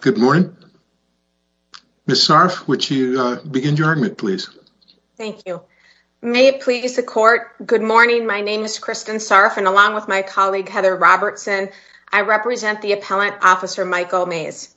Good morning. Ms. Sarf, would you begin your argument, please? Thank you. May it please the Court, good morning. My name is Kristen Sarf, and along with my colleague Heather Robertson, I represent the Appellant Officer Michael Mays.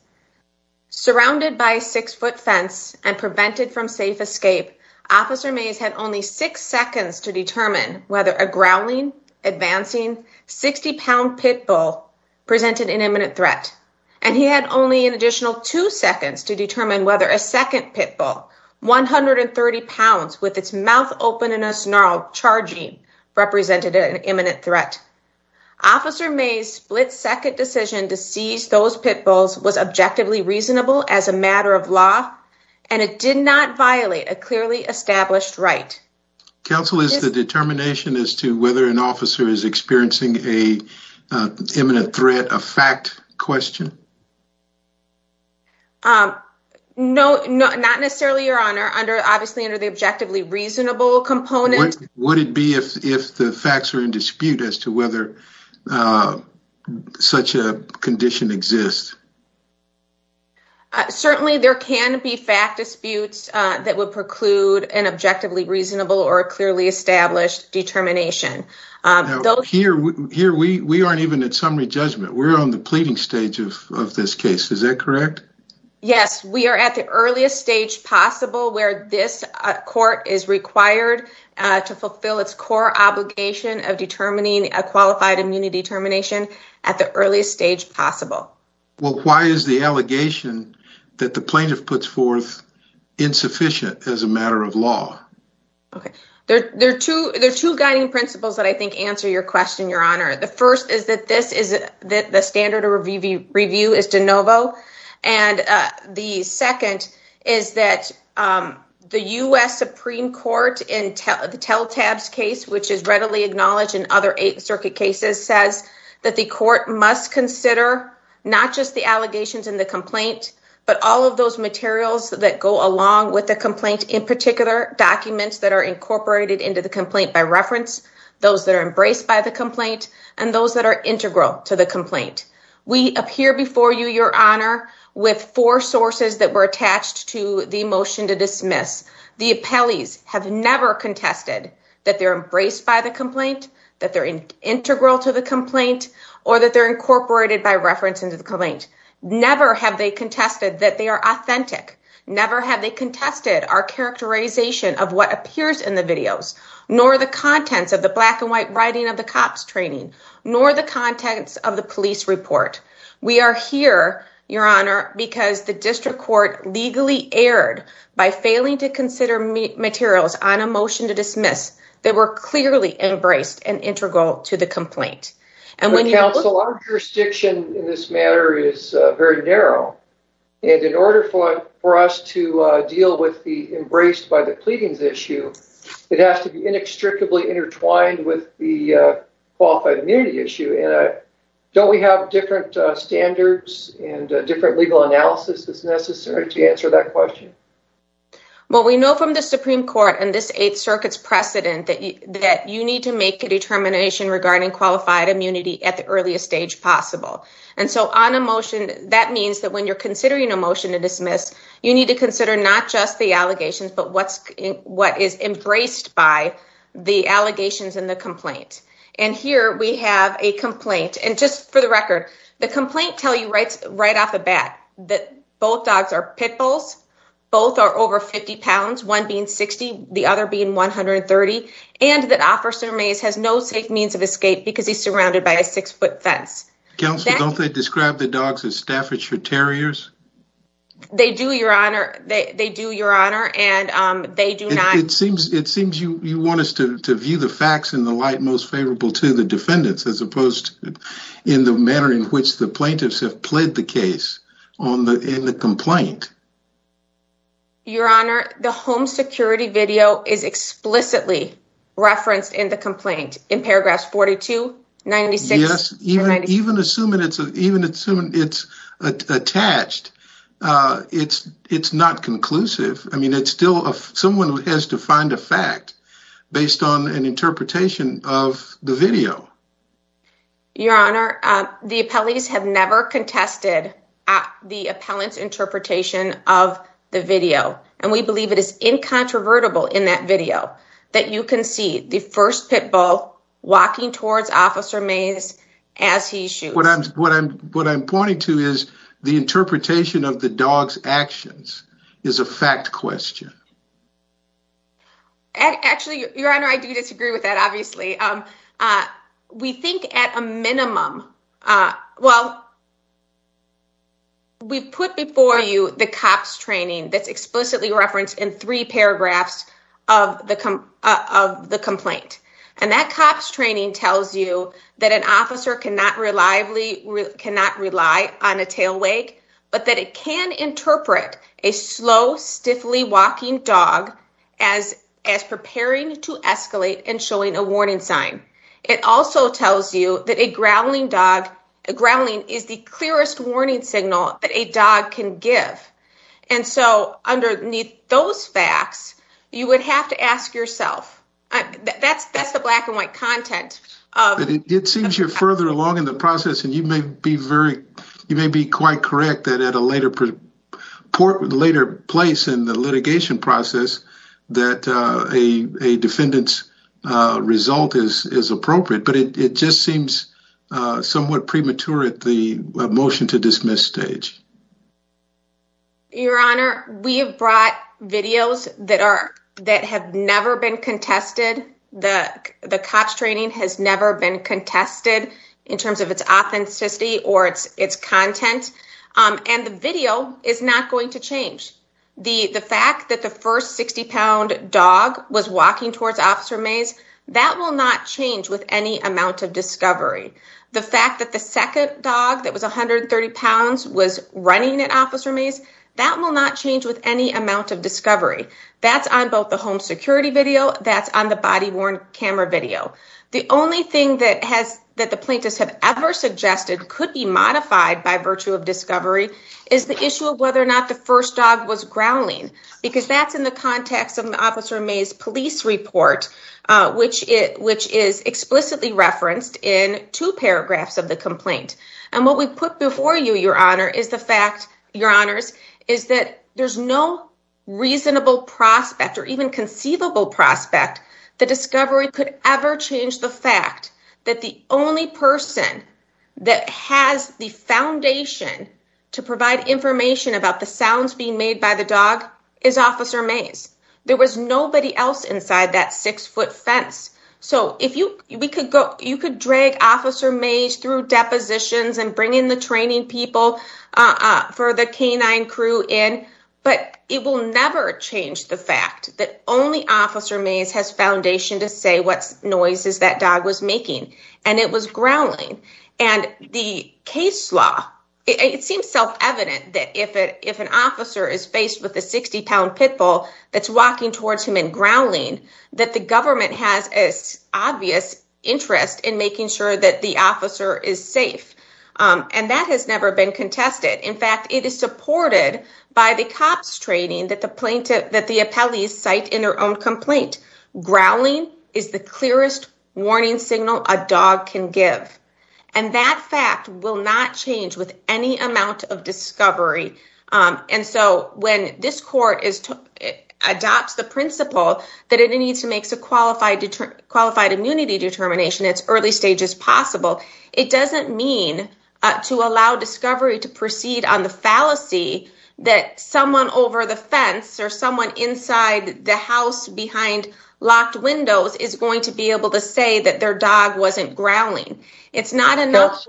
Surrounded by a six-foot fence and prevented from safe escape, Officer Mays had only six seconds to determine whether a growling, advancing, 60-pound pit bull presented an imminent threat. And he had only an additional two seconds to determine whether a second pit bull, 130 pounds, with its mouth open and a snarl, charging, represented an imminent threat. Officer Mays' split-second decision to seize those pit bulls was objectively reasonable as a matter of law and it did not violate a clearly established right. Counsel, is the determination as to whether an officer is experiencing an imminent threat a fact question? No, not necessarily, Your Honor. Obviously, under the objectively reasonable component. Would it be if the facts are in condition? Certainly, there can be fact disputes that would preclude an objectively reasonable or clearly established determination. Here, we aren't even at summary judgment. We're on the pleading stage of this case. Is that correct? Yes, we are at the earliest stage possible where this court is required to fulfill its core obligation of determining a qualified immunity determination at the earliest stage possible. Why is the allegation that the plaintiff puts forth insufficient as a matter of law? There are two guiding principles that I think answer your question, Your Honor. The first is that the standard of review is de novo. And the second is that the U.S. Supreme Court in the Telltab case, which is readily acknowledged in other Eighth Circuit cases, says that the court must consider not just the allegations in the complaint, but all of those materials that go along with the complaint, in particular documents that are incorporated into the complaint by reference, those that are embraced by the complaint, and those that are integral to the complaint. We appear before you, Your Honor, with four sources that were attached to the motion to dismiss. The appellees have never contested that they're embraced by the complaint, that they're integral to the complaint, or that they're incorporated by reference into the complaint. Never have they contested that they are authentic. Never have they contested our characterization of what appears in the videos, nor the contents of the black and white writing of the cops training, nor the contents of the police report. We are here, Your Honor, because the district court legally erred by failing to dismiss that they were clearly embraced and integral to the complaint. Counsel, our jurisdiction in this matter is very narrow, and in order for us to deal with the embraced by the pleadings issue, it has to be inextricably intertwined with the qualified immunity issue. Don't we have different standards and different legal analysis that's necessary to precedent that you need to make a determination regarding qualified immunity at the earliest stage possible? And so on a motion, that means that when you're considering a motion to dismiss, you need to consider not just the allegations, but what is embraced by the allegations in the complaint. And here we have a complaint, and just for the record, the complaint tell you right off the bat that both dogs are pit bulls, both are over 50 pounds, one being 60, the other being 130, and that Officer Mays has no safe means of escape because he's surrounded by a six-foot fence. Counsel, don't they describe the dogs as Staffordshire Terriers? They do, Your Honor. They do, Your Honor, and they do not. It seems you want us to view the facts in the light most favorable to the defendants as opposed in the manner in which the plaintiffs have played the case in the complaint. Your Honor, the home security video is explicitly referenced in the complaint in paragraphs 42, 96- Yes, even assuming it's attached, it's not conclusive. I mean, it's still someone who finds a fact based on an interpretation of the video. Your Honor, the appellees have never contested the appellant's interpretation of the video, and we believe it is incontrovertible in that video that you can see the first pit bull walking towards Officer Mays as he shoots. What I'm pointing to is the interpretation of the dog's actions is a fact question. Actually, Your Honor, I do disagree with that, obviously. We think at a minimum... Well, we put before you the COPS training that's explicitly referenced in three paragraphs of the complaint, and that COPS training tells you that an officer cannot rely on a tail wag, but that it can interpret a slow, stiffly walking dog as preparing to escalate and showing a warning sign. It also tells you that a growling is the clearest warning signal that a dog can give. And so underneath those facts, you would have to ask yourself. That's the black and white content. It seems you're further along in the process, and you may be quite correct that at a later place in the litigation process that a defendant's result is appropriate, but it just seems somewhat premature at the motion to dismiss stage. Your Honor, we have brought videos that have never been contested. The COPS training has never been contested in terms of its authenticity or its content, and the video is not going to change. The fact that the first 60-pound dog was walking towards Officer Mays, that will not change with any amount of discovery. The fact that the second dog that was 130 pounds was running at Officer Mays, that will not change with any amount of discovery. That's on both the home security video, that's on the body-worn camera video. The only thing that the plaintiffs have ever suggested could be modified by virtue of discovery is the issue of whether or not the first dog was growling, because that's in the context of Officer Mays' police report, which is explicitly referenced in two paragraphs of the complaint. What we put before you, Your Honors, is that there's no reasonable prospect or even conceivable prospect that discovery could ever change the fact that the only person that has the foundation to provide information about the sounds being made by the dog is Officer Mays. There was nobody else inside that six-foot fence. You could drag Officer Mays through depositions and bring in the training people for the canine crew in, but it will never change the fact that only Officer Mays has foundation to say what noises that dog was making, and it was growling. The case law, it seems self-evident that if an officer is faced with a 60-pound pit bull that's walking towards him and growling, that the government has an obvious interest in making sure that the officer is safe, and that has never been contested. In fact, it is supported by the cops training that the plaintiff, that the appellees cite in their own complaint. Growling is the clearest warning signal a dog can give, and that fact will not change with any amount of discovery, and so when this court adopts the principle that it needs to make a qualified immunity determination as early stage as possible, it doesn't mean to allow discovery to proceed on the fallacy that someone over the fence or someone inside the house behind locked windows is going to be able to say that their dog wasn't growling. It's not enough.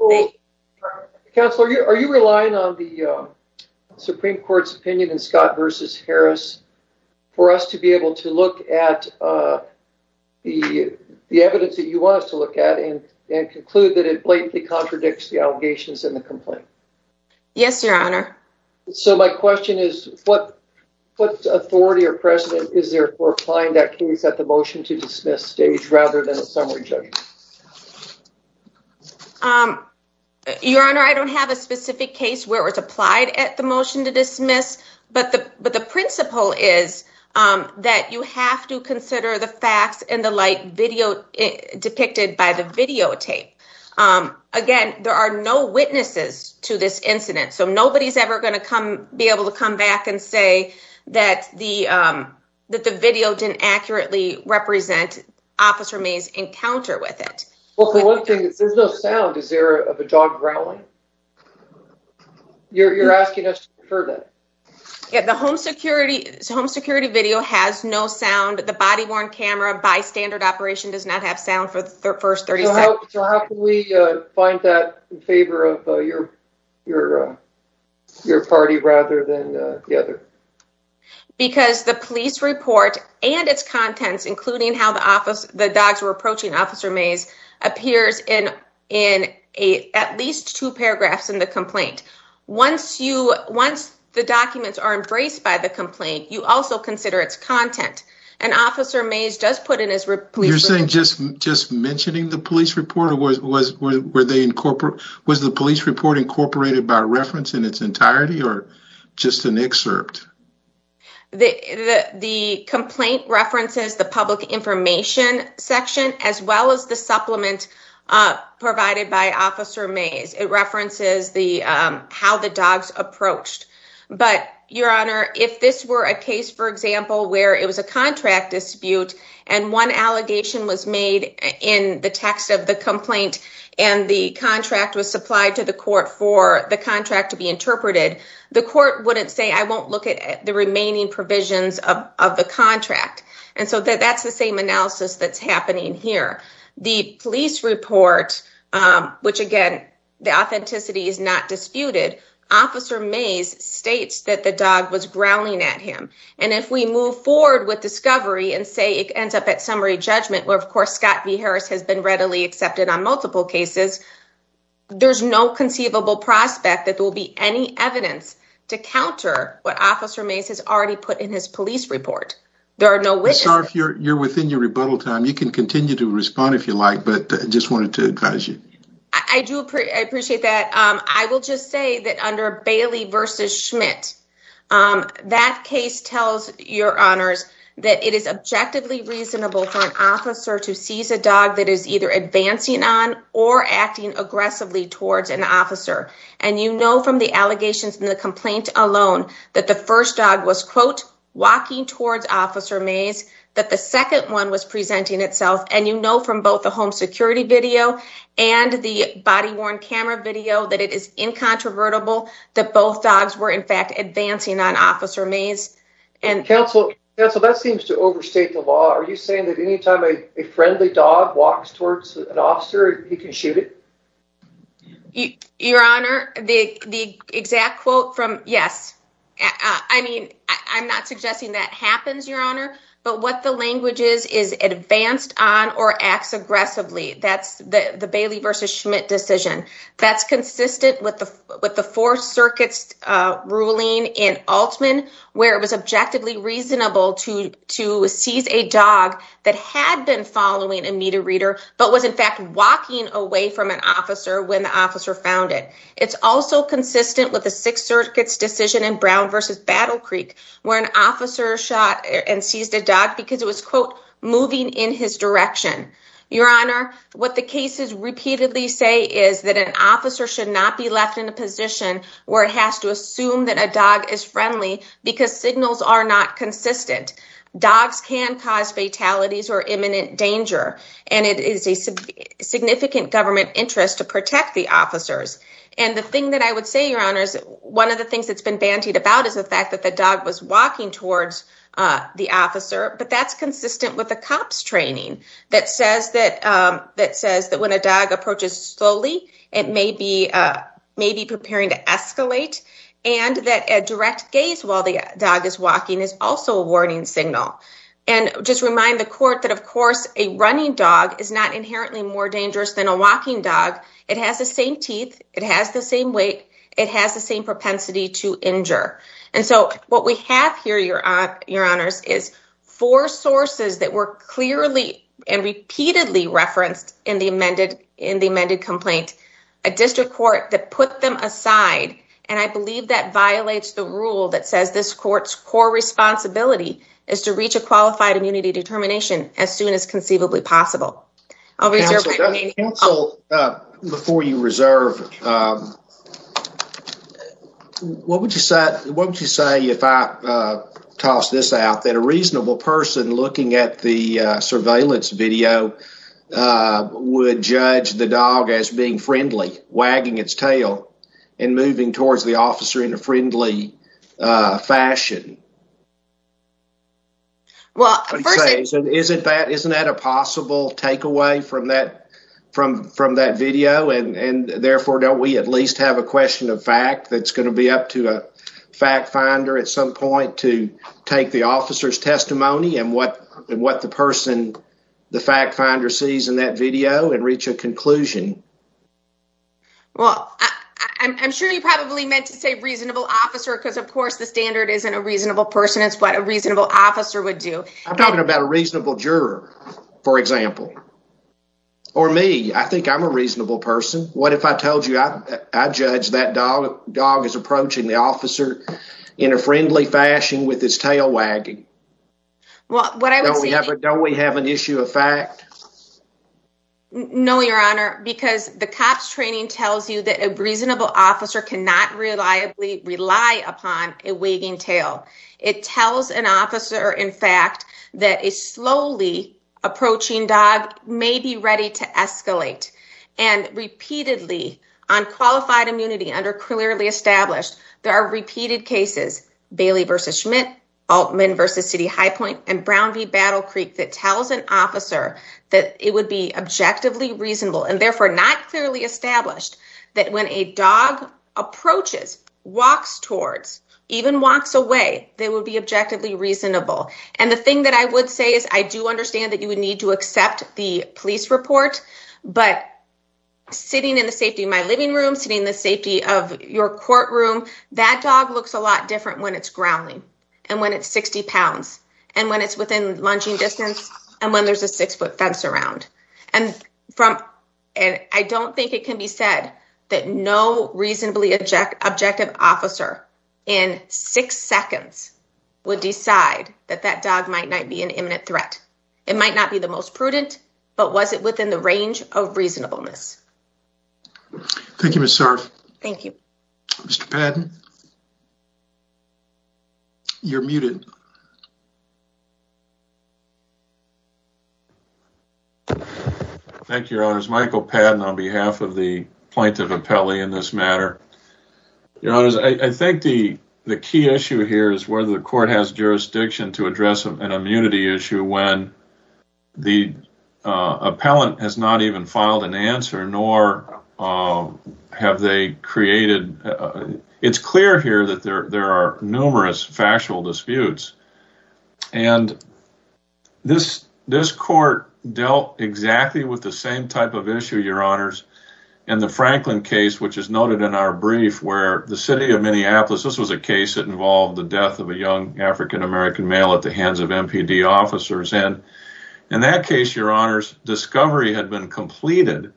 Counselor, are you relying on the Supreme Court's ruling on the case of Brown v. Harris for us to be able to look at the evidence that you want us to look at and conclude that it blatantly contradicts the allegations in the complaint? Yes, Your Honor. So my question is, what authority or precedent is there for applying that case at the motion to dismiss stage rather than a summary judgment? Your Honor, I don't have a specific case where it's but the principle is that you have to consider the facts in the light video depicted by the videotape. Again, there are no witnesses to this incident, so nobody's ever going to come be able to come back and say that the video didn't accurately represent Officer May's encounter with it. Well, for one thing, there's no sound. Is there of a dog growling? You're asking us to confirm that? Yeah, the home security video has no sound. The body-worn camera by standard operation does not have sound for the first 30 seconds. So how can we find that in favor of your party rather than the other? Because the police report and its contents, including how the dogs were approaching Officer Mays, appears in at least two paragraphs in the complaint. Once the documents are embraced by the complaint, you also consider its content. And Officer Mays does put in his report. You're saying just mentioning the police report? Was the police report incorporated by reference in its entirety or just an excerpt? The complaint references the public information section as well as the supplement provided by the police. The police report references how the dogs approached. But, Your Honor, if this were a case, for example, where it was a contract dispute and one allegation was made in the text of the complaint and the contract was supplied to the court for the contract to be interpreted, the court wouldn't say, I won't look at the remaining provisions of the contract. And so that's the analysis that's happening here. The police report, which, again, the authenticity is not disputed, Officer Mays states that the dog was growling at him. And if we move forward with discovery and say it ends up at summary judgment, where, of course, Scott B. Harris has been readily accepted on multiple cases, there's no conceivable prospect that there will be any evidence to counter what your rebuttal time. You can continue to respond if you like, but I just wanted to advise you. I do appreciate that. I will just say that under Bailey v. Schmidt, that case tells your honors that it is objectively reasonable for an officer to seize a dog that is either advancing on or acting aggressively towards an officer. And you know from the allegations in the complaint alone that the first dog was, quote, walking towards Officer Mays, that the second one was presenting itself. And you know from both the home security video and the body-worn camera video that it is incontrovertible that both dogs were, in fact, advancing on Officer Mays. Counsel, that seems to overstate the law. Are you saying that anytime a friendly dog walks towards an officer, he can shoot it? Your honor, the exact quote from, yes, I mean, I'm not suggesting that happens, your honor, but what the language is, is advanced on or acts aggressively. That's the Bailey v. Schmidt decision. That's consistent with the Fourth Circuit's ruling in Altman, where it was objectively reasonable to seize a dog that had been following a meter reader, but was, in fact, walking away from an officer when the officer found it. It's also consistent with the Sixth Circuit's decision in Brown v. Battle Creek, where an officer shot and seized a dog because it was, quote, moving in his direction. Your honor, what the cases repeatedly say is that an officer should not be left in a position where it has to assume that a dog is friendly because signals are not consistent. Dogs can cause fatalities or imminent danger, and it is a significant government interest to protect the officers. And the thing that I would say, your honor, is one of the things that's been bantied about is the fact that the dog was walking towards the officer, but that's consistent with a cop's training that says that when a dog approaches slowly, it may be preparing to escalate, and that a direct gaze while the dog is walking is also a warning signal. And just remind the court that, of course, a running dog is not inherently more dangerous than a walking dog. It has the same teeth. It has the same weight. It has the same propensity to injure. And so what we have here, your honors, is four sources that were clearly and repeatedly referenced in the amended complaint, a district court that put them aside, and I believe that violates the rule that says this court's core responsibility is to reach a qualified immunity determination as soon as conceivably possible. Counsel, before you reserve, what would you say if I toss this out, that a reasonable person looking at the surveillance video would judge the dog as being friendly, wagging its tail, and moving towards the officer in a friendly fashion? Isn't that a possible takeaway from that video, and therefore don't we at least have a question of fact that's going to be up to a fact finder at some point to take the officer's testimony and what the person, the fact finder sees in that video and reach a officer? Because of course the standard isn't a reasonable person. It's what a reasonable officer would do. I'm talking about a reasonable juror, for example, or me. I think I'm a reasonable person. What if I told you I judge that dog is approaching the officer in a friendly fashion with his tail wagging? Don't we have an issue of fact? No, your honor, because the COPS training tells you that a rely upon a wagging tail. It tells an officer, in fact, that a slowly approaching dog may be ready to escalate. And repeatedly on qualified immunity under clearly established, there are repeated cases, Bailey versus Schmidt, Altman versus City High Point, and Brown v. Battle Creek that tells an officer that it would be objectively reasonable and therefore not clearly established that when a dog approaches, walks towards, even walks away, they would be objectively reasonable. And the thing that I would say is I do understand that you would need to accept the police report, but sitting in the safety of my living room, sitting in the safety of your courtroom, that dog looks a lot different when it's growling and when it's 60 pounds and when it's within lunging distance and when there's a six foot fence around. And I don't think it can be said that no reasonably objective officer in six seconds would decide that that dog might not be an imminent threat. It might not be the most prudent, but was it within the range of reasonableness? Thank you, Ms. Sarf. Thank you. Mr. Padden, you're muted. Thank you, Your Honors. Michael Padden on behalf of the plaintiff appellee in this matter. Your Honors, I think the key issue here is whether the court has jurisdiction to address an immunity issue when the appellant has not even filed an answer nor have they created... It's clear here there are numerous factual disputes. And this court dealt exactly with the same type of issue, Your Honors, in the Franklin case, which is noted in our brief, where the city of Minneapolis, this was a case that involved the death of a young African-American male at the hands of MPD officers. And in that case, Your Honors, discovery had been completed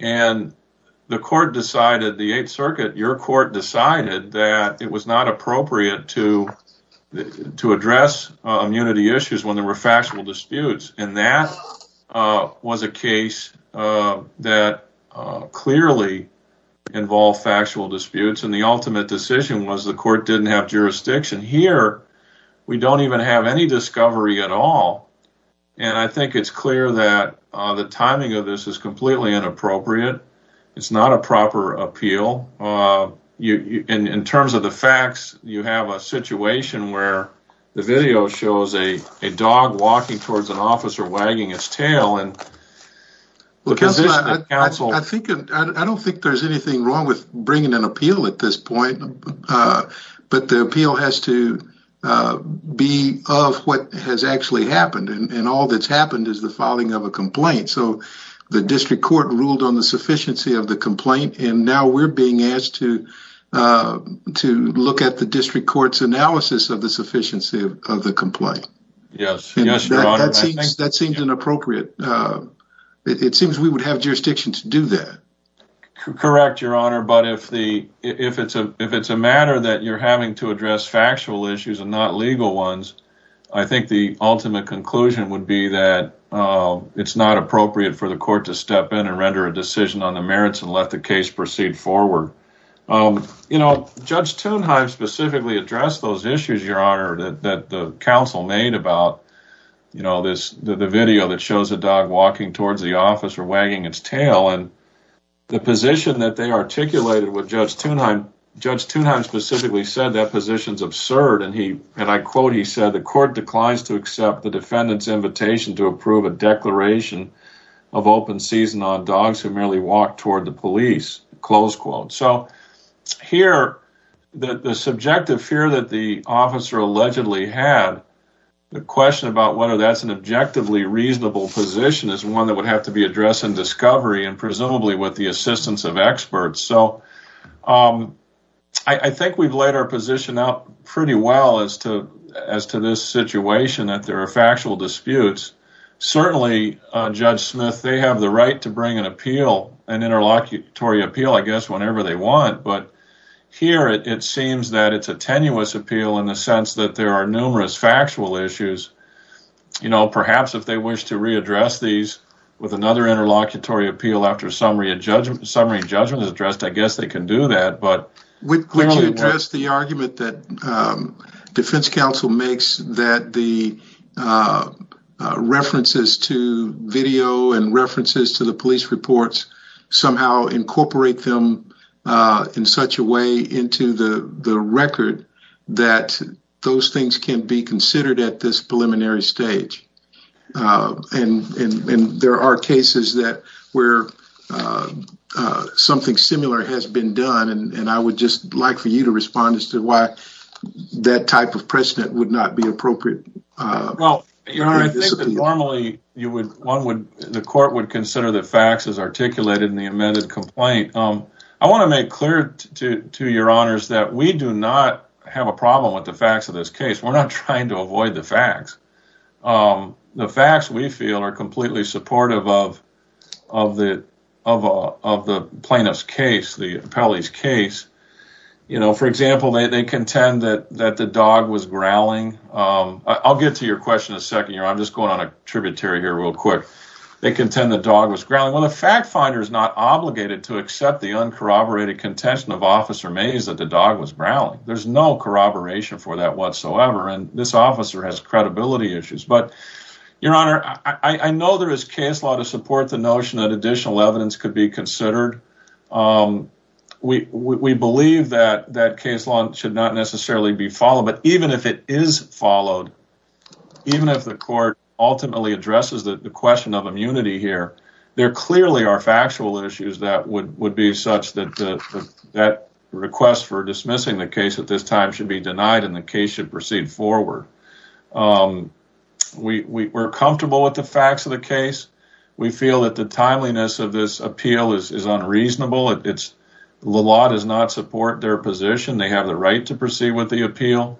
and the court decided, the Eighth Circuit, your court decided that it was not appropriate to address immunity issues when there were factual disputes. And that was a case that clearly involved factual disputes. And the ultimate decision was the court didn't have jurisdiction. Here, we don't even have any discovery at all. And I think it's clear that the timing of this is completely inappropriate. It's not a proper appeal. In terms of the facts, you have a situation where the video shows a dog walking towards an officer wagging its tail. I don't think there's anything wrong with bringing an appeal at this point, but the appeal has to be of what has actually happened. And all that's happened is the complaint. So the district court ruled on the sufficiency of the complaint. And now we're being asked to look at the district court's analysis of the sufficiency of the complaint. That seems inappropriate. It seems we would have jurisdiction to do that. Correct, Your Honor. But if it's a matter that you're having to address factual issues and not it's not appropriate for the court to step in and render a decision on the merits and let the case proceed forward. Judge Thunheim specifically addressed those issues, Your Honor, that the counsel made about the video that shows a dog walking towards the officer wagging its tail. And the position that they articulated with Judge Thunheim, Judge Thunheim specifically said that position's absurd. And I quote, he said, the court declines to accept the defendant's invitation to approve a declaration of open season on dogs who merely walk toward the police, close quote. So here, the subjective fear that the officer allegedly had, the question about whether that's an objectively reasonable position is one that would have to be addressed in discovery and presumably with the assistance of experts. So I think we've laid our position out pretty well as to this situation that there are factual disputes. Certainly, Judge Smith, they have the right to bring an appeal, an interlocutory appeal, I guess, whenever they want. But here, it seems that it's a tenuous appeal in the sense that there are numerous factual issues. You know, perhaps if they wish to readdress these with another interlocutory appeal after summary judgment is addressed, I guess they can do that. But would you address the argument that defense counsel makes that the references to video and references to the police reports somehow incorporate them in such a way into the record that those things can be considered at this preliminary stage? And there are cases that where something similar has been done, and I would just like for you to respond as to why that type of precedent would not be appropriate. Well, I think that normally, the court would consider the facts as articulated in the amended complaint. I want to make clear to your honors that we do not have a problem with the facts of this case. We're not trying to avoid the facts. The facts, we feel, are completely supportive of the plaintiff's case, the appellee's case. You know, for example, they contend that the dog was growling. I'll get to your question in a second. I'm just going on a tributary here real quick. They contend the dog was growling. Well, the fact finder is not obligated to accept the uncorroborated contention of Officer Mays that the dog was growling. There's no corroboration for that whatsoever, and this officer has credibility issues. But, your honor, I know there is case law to support the notion that additional evidence could be considered. We believe that that case law should not necessarily be followed, but even if it is followed, even if the court ultimately addresses the question of immunity here, there clearly are factual issues that would be such that that request for dismissing the case at this time should be denied and the case should proceed forward. We're comfortable with the facts of the case. We feel that the timeliness of this appeal is unreasonable. The law does not support their position. They have the right to proceed with the appeal,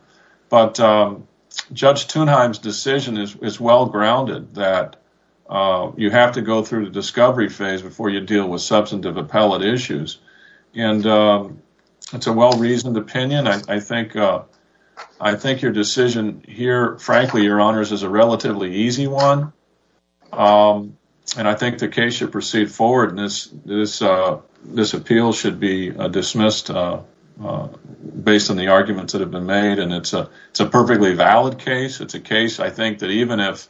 but Judge Thunheim's decision is well grounded that you have to go through the discovery phase before you deal with substantive appellate issues. It's a well-reasoned opinion. I think your decision here, frankly, your honors, is a relatively easy one, and I think the case should proceed forward. This appeal should be dismissed based on the arguments that have been made, and it's a perfectly valid case. It's a case, I think, that even if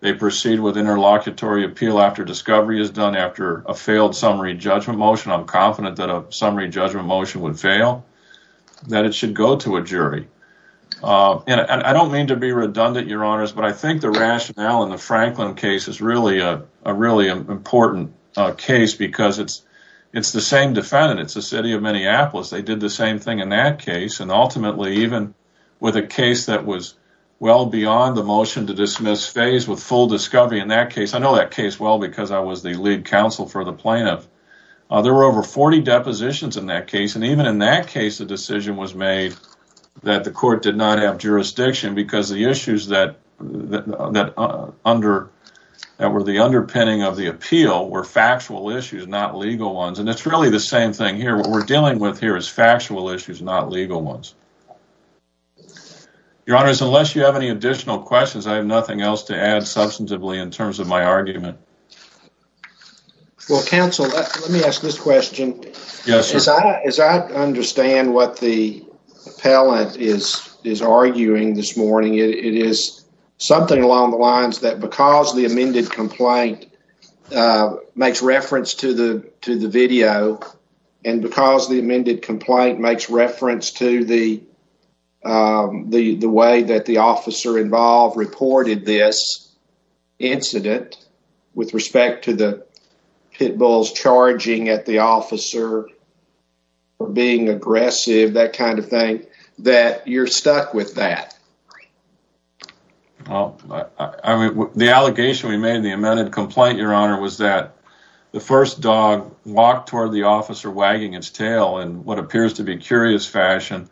they proceed with interlocutory appeal after discovery is done after a failed summary judgment motion, I'm confident that a summary judgment motion would fail, that it should go to a jury. I don't mean to be redundant, your honors, but I think the rationale in the Franklin case is really an important case because it's the same defendant. It's the city of Minneapolis. They did the same thing in that case, and ultimately even with a case that was well beyond the motion to dismiss phase with full discovery in that case, I know that case well because I was the lead counsel for the plaintiff, there were over 40 depositions in that case, and even in that case, the decision was made that the court did not have jurisdiction because the issues that were the underpinning of the appeal were factual issues, not legal ones, and it's really the same thing here. What we're dealing with here is factual issues, not legal ones. Your honors, unless you have any additional questions, I have nothing else to add substantively in terms of my argument. Well, counsel, let me ask this question. Yes, sir. As I understand what the appellant is arguing this morning, it is something along the lines that because the amended complaint makes reference to the video and because the amended complaint makes reference to the way that the officer involved reported this incident with respect to the pit bulls charging at the officer or being aggressive, that kind of thing, that you're stuck with that. Well, I mean, the allegation we made in the amended complaint, your honor, was that the first dog walked toward the officer wagging its tail in what appears to be curious fashion,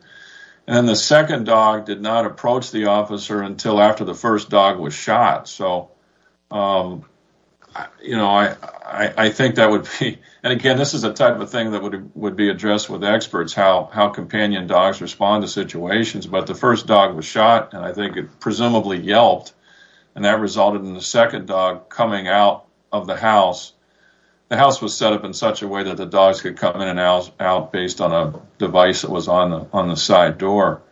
and then the second dog did not approach the officer until after the first dog was shot. I think that would be, and again, this is the type of thing that would be addressed with experts, how companion dogs respond to situations, but the first dog was shot, and I think it presumably yelped, and that resulted in the second dog coming out of the house. The house was set up in such a way that the dogs could come in and out based on a device that on the side door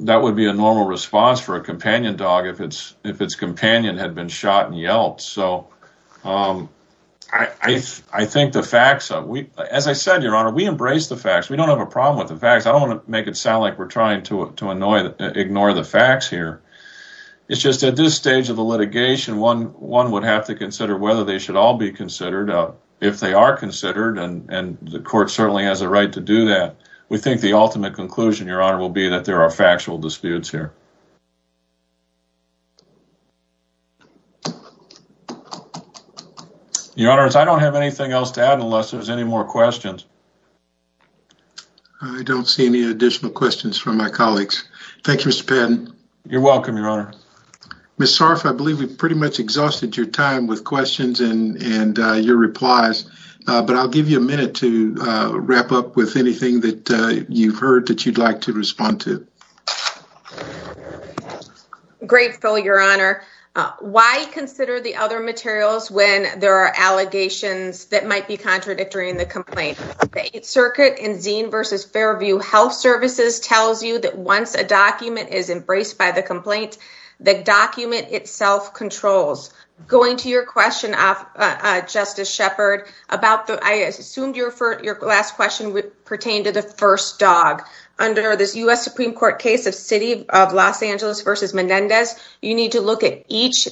that would be a normal response for a companion dog if its companion had been shot and yelped. So I think the facts, as I said, your honor, we embrace the facts. We don't have a problem with the facts. I don't want to make it sound like we're trying to ignore the facts here. It's just at this stage of the litigation, one would have to consider whether they should all be considered. If they are considered, and the court certainly has a right to do that, we think the ultimate conclusion, your honor, will be that there are factual disputes here. Your honors, I don't have anything else to add unless there's any more questions. I don't see any additional questions from my colleagues. Thank you, Mr. Patton. You're welcome, your honor. Ms. Sarf, I believe we've pretty much exhausted your time with questions and your replies, but I'll give you a minute to wrap up with anything that you've heard that you'd like to respond to. Grateful, your honor. Why consider the other materials when there are allegations that might be contradictory in the complaint? The Eighth Circuit in Zine versus Fairview Health Services tells you that once a document is embraced by the complaint, the document itself controls. Going to your question, Justice Shepard, I assumed your last question pertained to the first dog. Under this U.S. Supreme Court case of City of Los Angeles versus Menendez, you need to look at each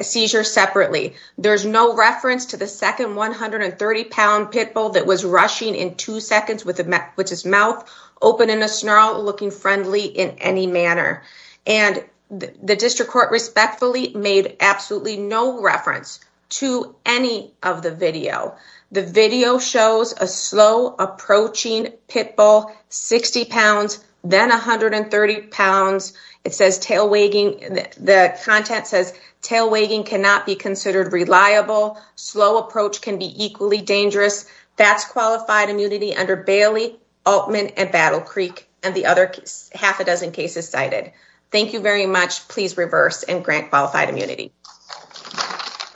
seizure separately. There's no reference to the second 130-pound pit bull that was rushing in two seconds with his mouth open in a snarl, looking friendly in any manner. The district court respectfully made absolutely no reference to any of the video. The video shows a slow approaching pit bull, 60 pounds, then 130 pounds. The content says tail wagging cannot be considered reliable. Slow approach can be equally dangerous. That's qualified immunity under Bailey, Altman, and Battle Creek and the other half a dozen cases cited. Thank you very much. Please reverse and grant qualified immunity.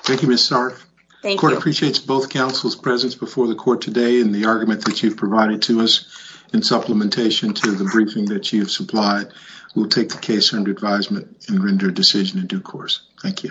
Thank you, Ms. Sarf. The court appreciates both counsel's presence before the court today and the argument that you've provided to us in supplementation to the briefing that you've provided. Thank you.